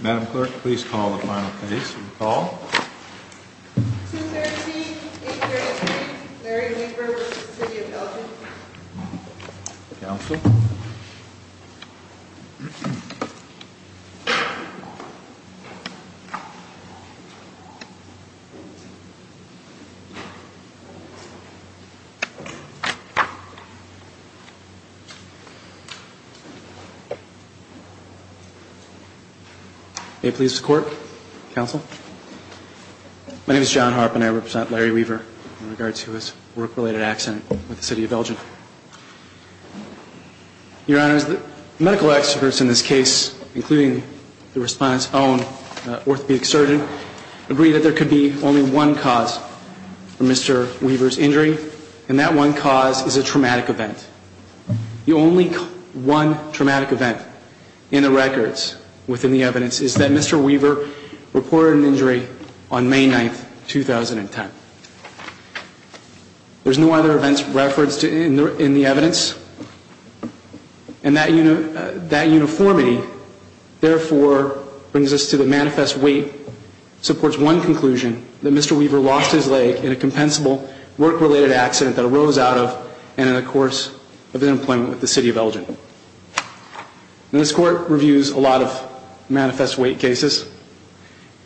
Madam Clerk, please call the final case. Call. 213, 8th Grade Street, Larry Weaver v. City of Belgium Counsel. May it please the Court, Counsel. My name is John Harp and I represent Larry Weaver in regards to his work-related accident with the City of Belgium. Your Honor, the medical experts in this case, including the Respondent's own orthopedic surgeon, agree that there could be only one cause for Mr. Weaver's injury, and that one cause is a traumatic event. The only one traumatic event in the records within the evidence is that Mr. Weaver reported an injury on May 9, 2010. There's no other events referenced in the evidence, and that uniformity, therefore, brings us to the manifest weight, which supports one conclusion, that Mr. Weaver lost his leg in a compensable work-related accident that arose out of and in the course of his employment with the City of Belgium. This Court reviews a lot of manifest weight cases,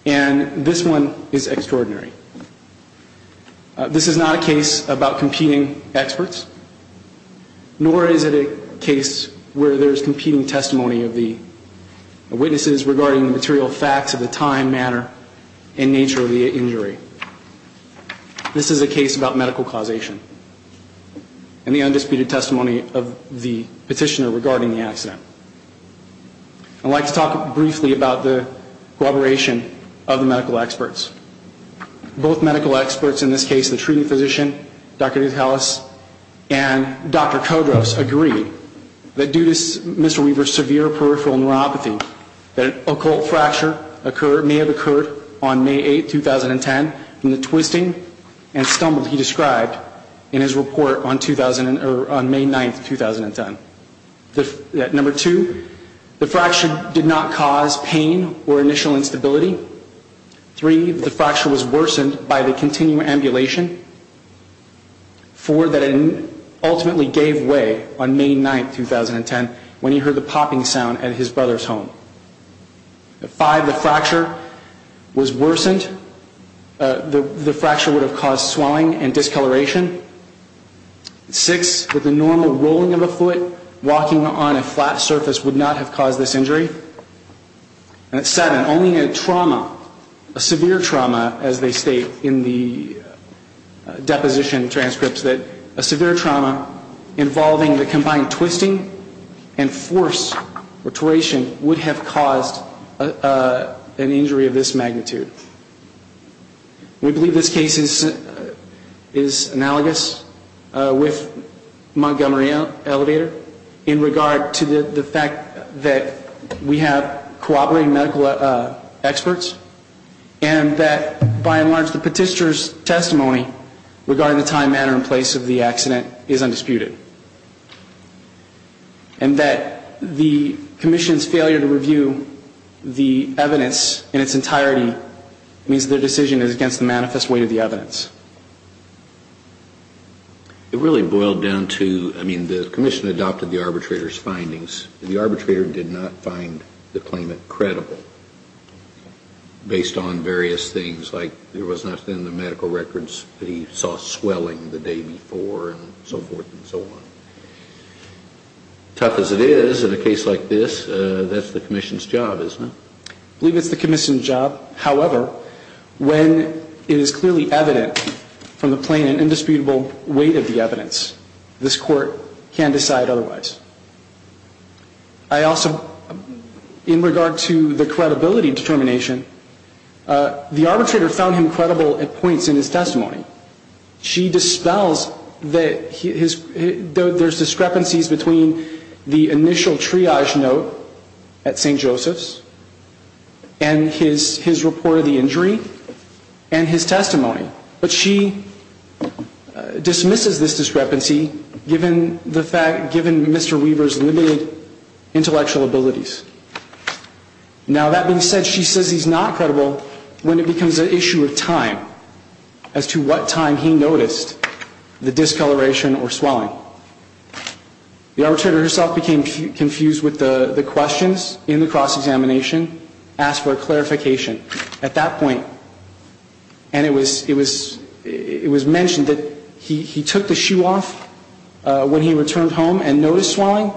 and this one is extraordinary. This is not a case about competing experts, nor is it a case where there's competing testimony of the witnesses regarding the material facts of the time, manner, and nature of the injury. This is a case about medical causation, and the undisputed testimony of the petitioner regarding the accident. I'd like to talk briefly about the cooperation of the medical experts. Both medical experts in this case, the treating physician, Dr. Dutelas, and Dr. Kodros, agree that due to Mr. Weaver's severe peripheral neuropathy, that an occult fracture may have occurred on May 8, 2010, from the twisting and stumble he described in his report on May 9, 2010. Number two, the fracture did not cause pain or initial instability. Three, the fracture was worsened by the continual ambulation. Four, that it ultimately gave way on May 9, 2010, when he heard the popping sound at his brother's home. Five, the fracture was worsened. The fracture would have caused swelling and discoloration. Six, with the normal rolling of a foot, walking on a flat surface would not have caused this injury. And seven, only a trauma, a severe trauma, as they state in the deposition transcripts, that a severe trauma involving the combined twisting and force, or toration, would have caused an injury of this magnitude. We believe this case is analogous with Montgomery Elevator, in regard to the fact that we have cooperating medical experts, and that, by and large, the petitioner's testimony regarding the time, manner, and place of the accident is undisputed. And that the Commission's failure to review the evidence in its entirety means their decision is against the manifest weight of the evidence. It really boiled down to, I mean, the Commission adopted the arbitrator's findings. The arbitrator did not find the claimant credible, based on various things, like there was nothing in the medical records that he saw swelling the day before, and so forth and so on. Tough as it is, in a case like this, that's the Commission's job, isn't it? I believe it's the Commission's job. However, when it is clearly evident from the plain and indisputable weight of the evidence, this Court can decide otherwise. I also, in regard to the credibility determination, the arbitrator found him credible at points in his testimony. She dispels that there's discrepancies between the initial triage note at St. Joseph's, and his report of the injury, and his testimony. But she dismisses this discrepancy, given Mr. Weaver's limited intellectual abilities. Now, that being said, she says he's not credible when it becomes an issue of time, as to what time he noticed the discoloration or swelling. The arbitrator herself became confused with the questions in the cross-examination, asked for a clarification at that point. And it was mentioned that he took the shoe off when he returned home and noticed swelling,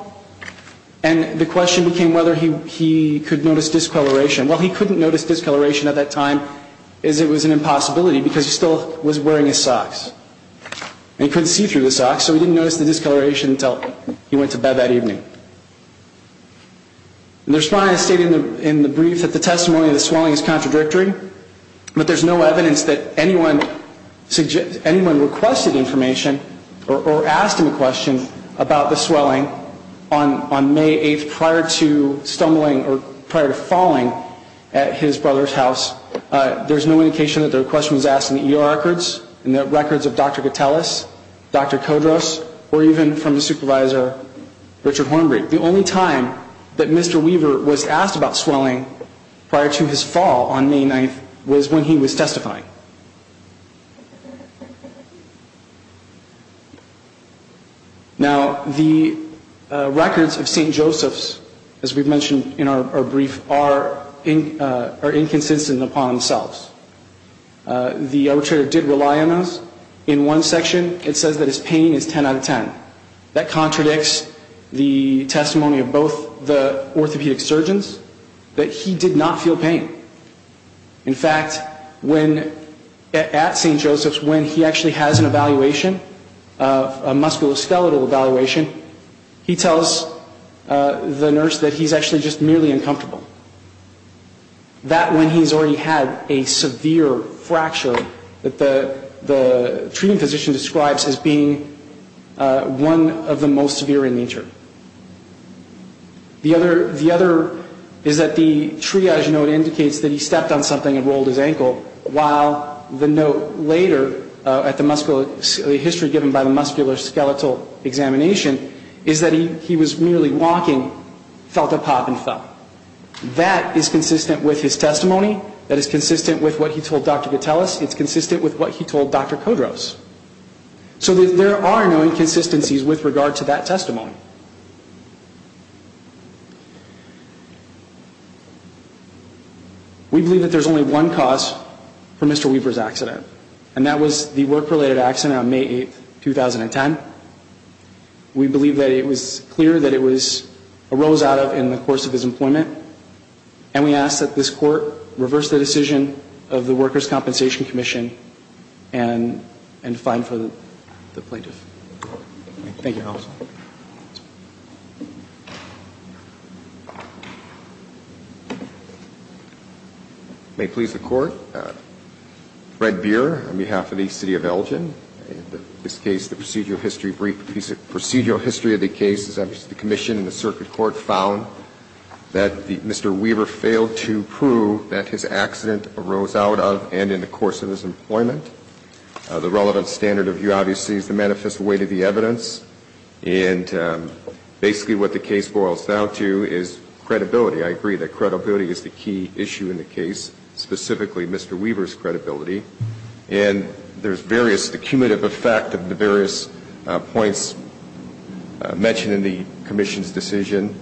and the question became whether he could notice discoloration. Well, he couldn't notice discoloration at that time, as it was an impossibility, because he still was wearing his socks. And he couldn't see through the socks, so he didn't notice the discoloration until he went to bed that evening. The respondent stated in the brief that the testimony of the swelling is contradictory, but there's no evidence that anyone requested information or asked him a question about the swelling on May 8th, prior to stumbling or prior to falling at his brother's house. There's no indication that the question was asked in the ER records, in the records of Dr. Gattelis, Dr. Kodros, or even from the supervisor, Richard Hornbreed. The only time that Mr. Weaver was asked about swelling prior to his fall on May 9th was when he was testifying. Now, the records of St. Joseph's, as we've mentioned in our brief, are inconsistent upon themselves. The arbitrator did rely on us. In one section, it says that his pain is 10 out of 10. That contradicts the testimony of both the orthopedic surgeons, that he did not feel pain. In fact, at St. Joseph's, when he actually has an evaluation, a musculoskeletal evaluation, he tells the nurse that he's actually just merely uncomfortable. That when he's already had a severe fracture that the treating physician describes as being one of the most severe in nature. The other is that the triage note indicates that he stepped on something and rolled his ankle, while the note later at the history given by the musculoskeletal examination is that he was merely walking, felt a pop and fell. That is consistent with his testimony. That is consistent with what he told Dr. Gateles. It's consistent with what he told Dr. Kodros. So there are no inconsistencies with regard to that testimony. We believe that there's only one cause for Mr. Weaver's accident, and that was the work-related accident on May 8th, 2010. We believe that it was clear that it arose out of in the course of his employment. And we ask that this Court reverse the decision of the Workers' Compensation Commission and fine for the plaintiff. Thank you, counsel. May it please the Court. Thank you. My name is Douglas L. Redbeer on behalf of the City of Elgin. In this case, the procedural history briefed, procedural history of the case is the commission and the circuit court found that Mr. Weaver failed to prove that his accident arose out of and in the course of his employment. The relevant standards of view, obviously, is the manifest weight of the evidence. And basically what the case boils down to is credibility. I agree that credibility is the key issue in the case, specifically Mr. Weaver's credibility. And there's various, the cumulative effect of the various points mentioned in the commission's decision,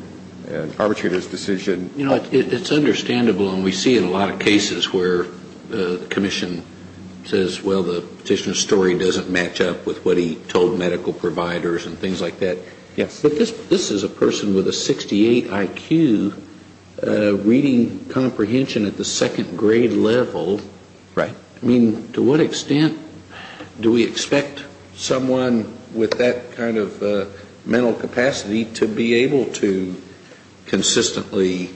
and arbitrator's decision. You know, it's understandable, and we see it in a lot of cases where the commission says, well, the petitioner's story doesn't match up with what he told medical providers and things like that. Yes. But this is a person with a 68 IQ reading comprehension at the second grade level. Right. I mean, to what extent do we expect someone with that kind of mental capacity to be able to consistently,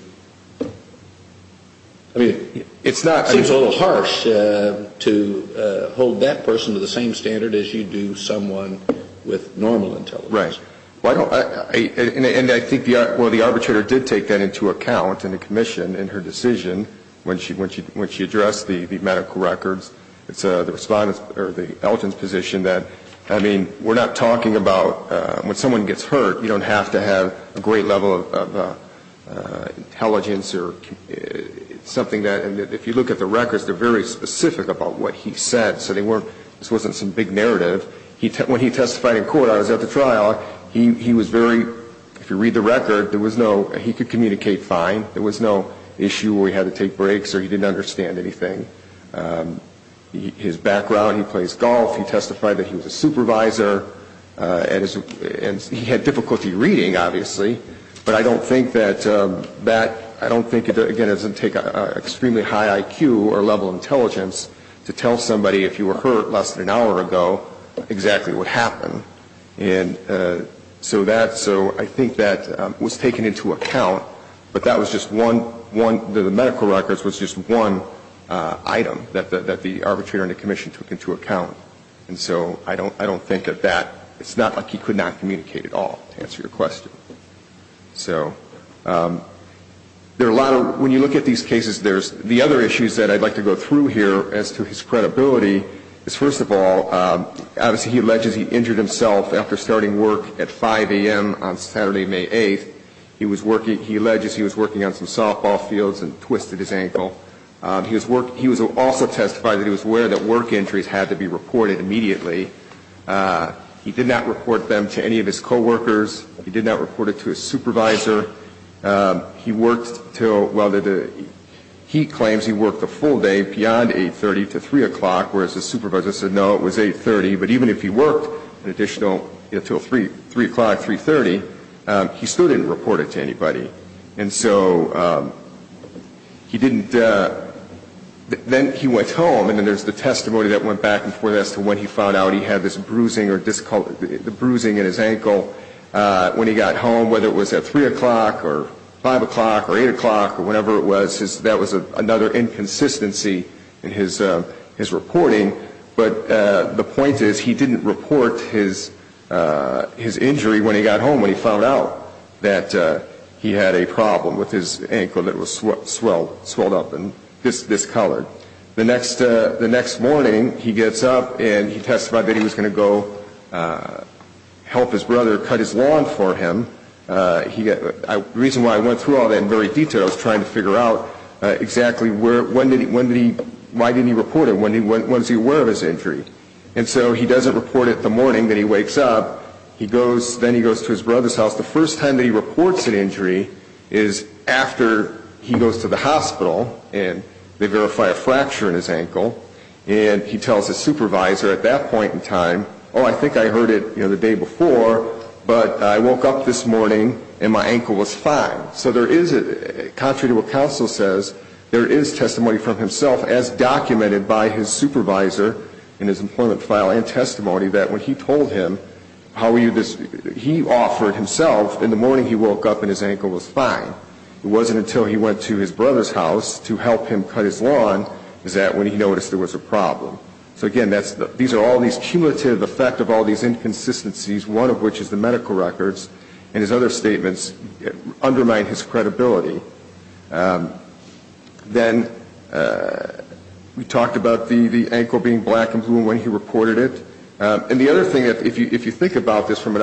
I mean, it seems a little harsh to hold that person to the same standard as you do someone with normal intelligence. Right. And I think, well, the arbitrator did take that into account in the commission in her decision, when she addressed the medical records. It's the elton's position that, I mean, we're not talking about when someone gets hurt, you don't have to have a great level of intelligence or something that, and if you look at the records, they're very specific about what he said. So they weren't, this wasn't some big narrative. When he testified in court, I was at the trial, he was very, if you read the record, there was no, he could communicate fine. There was no issue where he had to take breaks or he didn't understand anything. His background, he plays golf. He testified that he was a supervisor. And he had difficulty reading, obviously, but I don't think that that, I don't think, again, it doesn't take an extremely high IQ or level of intelligence to tell somebody, if you were hurt less than an hour ago, exactly what happened. And so that, so I think that was taken into account, but that was just one, the medical records was just one item that the arbitrator and the commission took into account. And so I don't think that that, it's not like he could not communicate at all, to answer your question. So there are a lot of, when you look at these cases, there's the other issues that I'd like to go through here as to his credibility is, first of all, obviously he alleges he injured himself after starting work at 5 a.m. on Saturday, May 8th. He was working, he alleges he was working on some softball fields and twisted his ankle. He was also testifying that he was aware that work injuries had to be reported immediately. He did not report them to any of his coworkers. He did not report it to his supervisor. He worked until, well, he claims he worked a full day beyond 8.30 to 3 o'clock, whereas his supervisor said, no, it was 8.30. But even if he worked an additional, you know, until 3 o'clock, 3.30, he still didn't report it to anybody. And so he didn't, then he went home, and then there's the testimony that went back and forth as to when he found out he had this bruising or, the bruising in his ankle when he got home, whether it was at 3 o'clock or 5 o'clock or 8 o'clock or whenever it was, that was another inconsistency in his reporting. But the point is, he didn't report his injury when he got home, when he found out that he had a problem with his ankle that was swelled up and discolored. The next morning, he gets up and he testified that he was going to go help his brother cut his lawn for him. The reason why I went through all that in very detail, I was trying to figure out exactly when did he, why didn't he report it, when was he aware of his injury. And so he doesn't report it the morning that he wakes up. He goes, then he goes to his brother's house. The first time that he reports an injury is after he goes to the hospital and they verify a fracture in his ankle, and he tells his supervisor at that point in time, oh, I think I heard it the day before, but I woke up this morning and my ankle was fine. So there is, contrary to what counsel says, there is testimony from himself as documented by his supervisor in his employment file and testimony that when he told him, he offered himself in the morning he woke up and his ankle was fine. It wasn't until he went to his brother's house to help him cut his lawn is that when he noticed there was a problem. So again, these are all these cumulative effect of all these inconsistencies, one of which is the medical records, and his other statements undermine his credibility. Then we talked about the ankle being black and blue when he reported it. And the other thing, if you think about this from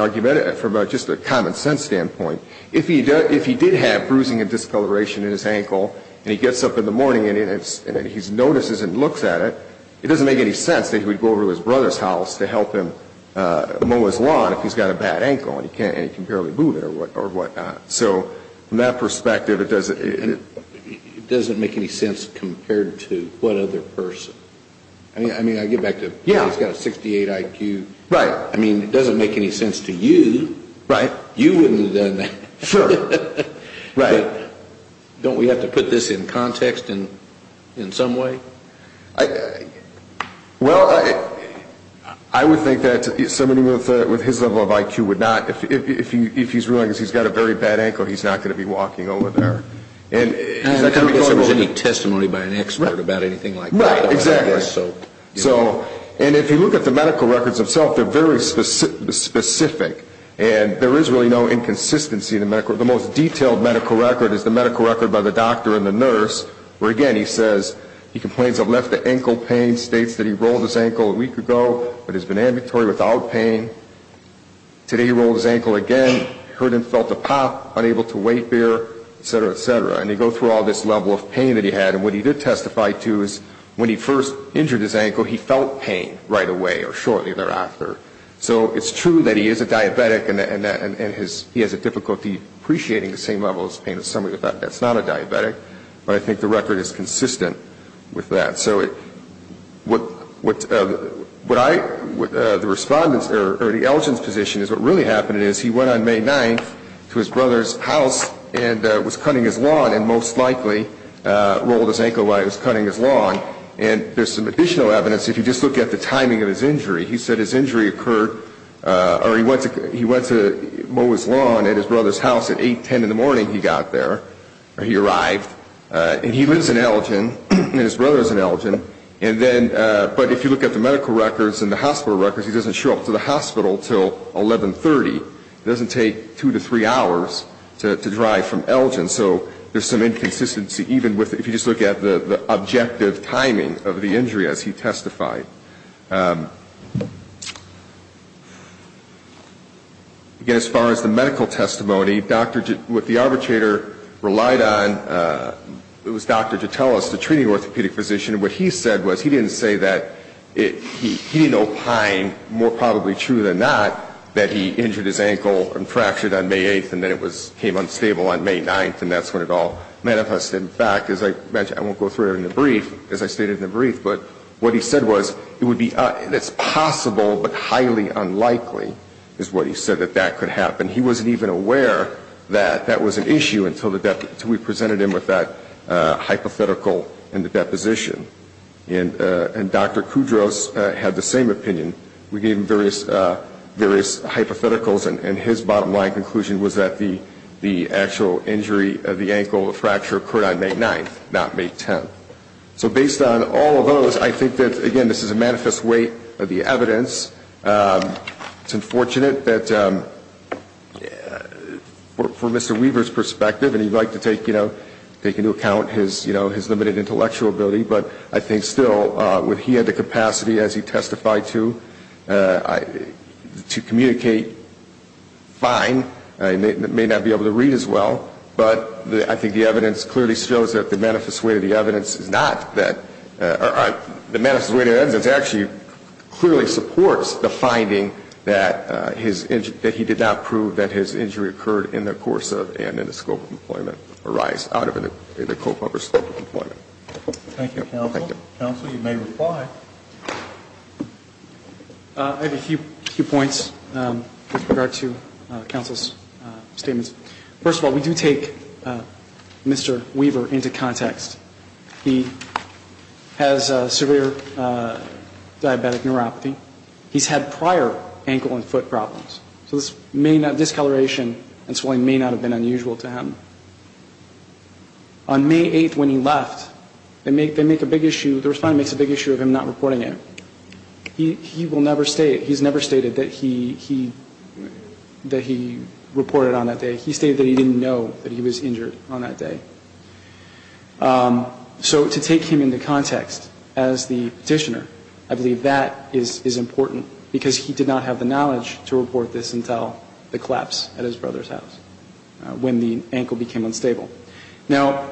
just a common sense standpoint, if he did have bruising and discoloration in his ankle and he gets up in the morning and he notices and looks at it, it doesn't make any sense that he would go over to his brother's house to help him mow his lawn if he's got a bad ankle and he can barely move it or whatnot. So from that perspective, it doesn't... It doesn't make any sense compared to what other person. I mean, I get back to he's got a 68 IQ. Right. I mean, it doesn't make any sense to you. Right. You wouldn't have done that. Sure. Right. Don't we have to put this in context in some way? Well, I would think that somebody with his level of IQ would not. If he's ruling that he's got a very bad ankle, he's not going to be walking over there. I don't think there's any testimony by an expert about anything like that. Right. Exactly. And if you look at the medical records themselves, they're very specific. And there is really no inconsistency. The most detailed medical record is the medical record by the doctor and the nurse, where, again, he says he complains of left ankle pain, states that he rolled his ankle a week ago but has been ambulatory without pain. Today he rolled his ankle again, heard and felt a pop, unable to weight bear, et cetera, et cetera. And you go through all this level of pain that he had. And what he did testify to is when he first injured his ankle, he felt pain right away or shortly thereafter. So it's true that he is a diabetic, and he has a difficulty appreciating the same level of pain as somebody that's not a diabetic. But I think the record is consistent with that. So the respondent's or the elgin's position is what really happened is he went on May 9th to his brother's house and was cutting his lawn and most likely rolled his ankle while he was cutting his lawn. And there's some additional evidence. If you just look at the timing of his injury, he said his injury occurred or he went to mow his lawn at his brother's house at 8, 10 in the morning he got there. He arrived. And he lives in Elgin, and his brother is in Elgin. But if you look at the medical records and the hospital records, he doesn't show up to the hospital until 1130. It doesn't take two to three hours to drive from Elgin. So there's some inconsistency even if you just look at the objective timing of the injury as he testified. Again, as far as the medical testimony, what the arbitrator relied on was the doctor to tell us, the treating orthopedic physician, what he said was he didn't say that he didn't opine, more probably true than not, that he injured his ankle and fractured on May 8th and then it came unstable on May 9th, and that's when it all manifested. In fact, as I mentioned, I won't go through it in the brief, as I stated in the brief, but what he said was it's possible but highly unlikely is what he said that that could happen. He wasn't even aware that that was an issue until we presented him with that hypothetical in the deposition. And Dr. Kudros had the same opinion. We gave him various hypotheticals, and his bottom line conclusion was that the actual injury, the ankle fracture occurred on May 9th, not May 10th. So based on all of those, I think that, again, this is a manifest way of the evidence. It's unfortunate that from Mr. Weaver's perspective, and he'd like to take into account his limited intellectual ability, but I think still, when he had the capacity, as he testified to, to communicate fine, he may not be able to read as well, but I think the evidence clearly shows that the manifest way of the evidence is not that or the manifest way of the evidence actually clearly supports the finding that his injury, that he did not prove that his injury occurred in the course of and in the scope of employment, or rise out of the scope of employment. Thank you, counsel. Counsel, you may reply. I have a few points with regard to counsel's statements. First of all, we do take Mr. Weaver into context. He has severe diabetic neuropathy. He's had prior ankle and foot problems. So this may not, discoloration and swelling may not have been unusual to him. On May 8th, when he left, they make a big issue, the respondent makes a big issue of him not reporting it. He will never state, he's never stated that he reported on that day. He stated that he didn't know that he was injured on that day. So to take him into context as the petitioner, I believe that is important, because he did not have the knowledge to report this until the collapse at his brother's house, when the ankle became unstable. Now,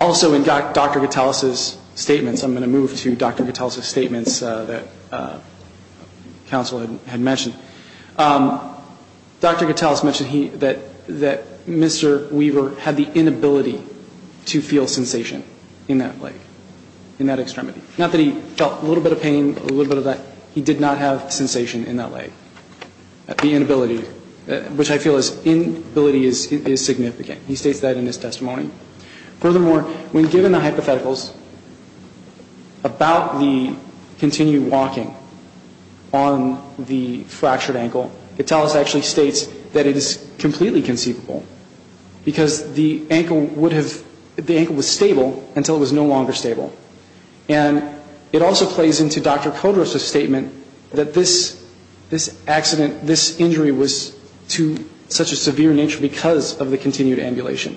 also in Dr. Gitalis's statements, I'm going to move to Dr. Gitalis's statements that counsel had mentioned. Dr. Gitalis mentioned that Mr. Weaver had the inability to feel sensation in that leg, in that extremity. Not that he felt a little bit of pain, a little bit of that, he did not have sensation in that leg. The inability, which I feel is, inability is significant. He states that in his testimony. Furthermore, when given the hypotheticals about the continued walking on the fractured ankle, Gitalis actually states that it is completely conceivable, because the ankle would have, the ankle was stable until it was no longer stable. And it also plays into Dr. Kodra's statement that this accident, this injury was to such a severe nature because of the continued ambulation.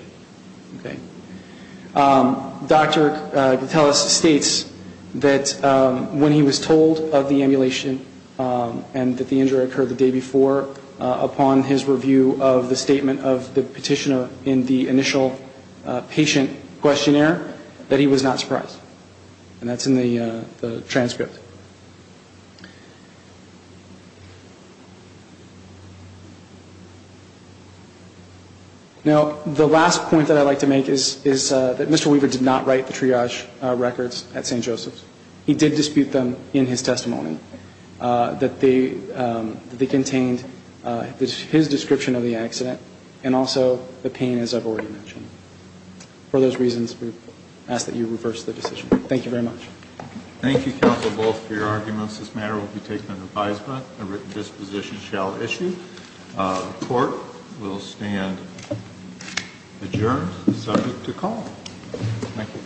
Dr. Gitalis states that when he was told of the ambulation and that the injury occurred the day before, upon his review of the statement of the petitioner in the initial patient questionnaire, that he was not surprised. And that's in the transcript. Now, the last point that I'd like to make is that Mr. Weaver did not write the triage records at St. Joseph's. He did dispute them in his testimony, that they contained his description of the accident and also the pain, as I've already mentioned. For those reasons, we ask that you reverse the decision. Thank you very much. Thank you, counsel, both for your arguments. This matter will be taken under advisement. A written disposition shall issue. The court will stand adjourned, subject to call. Thank you.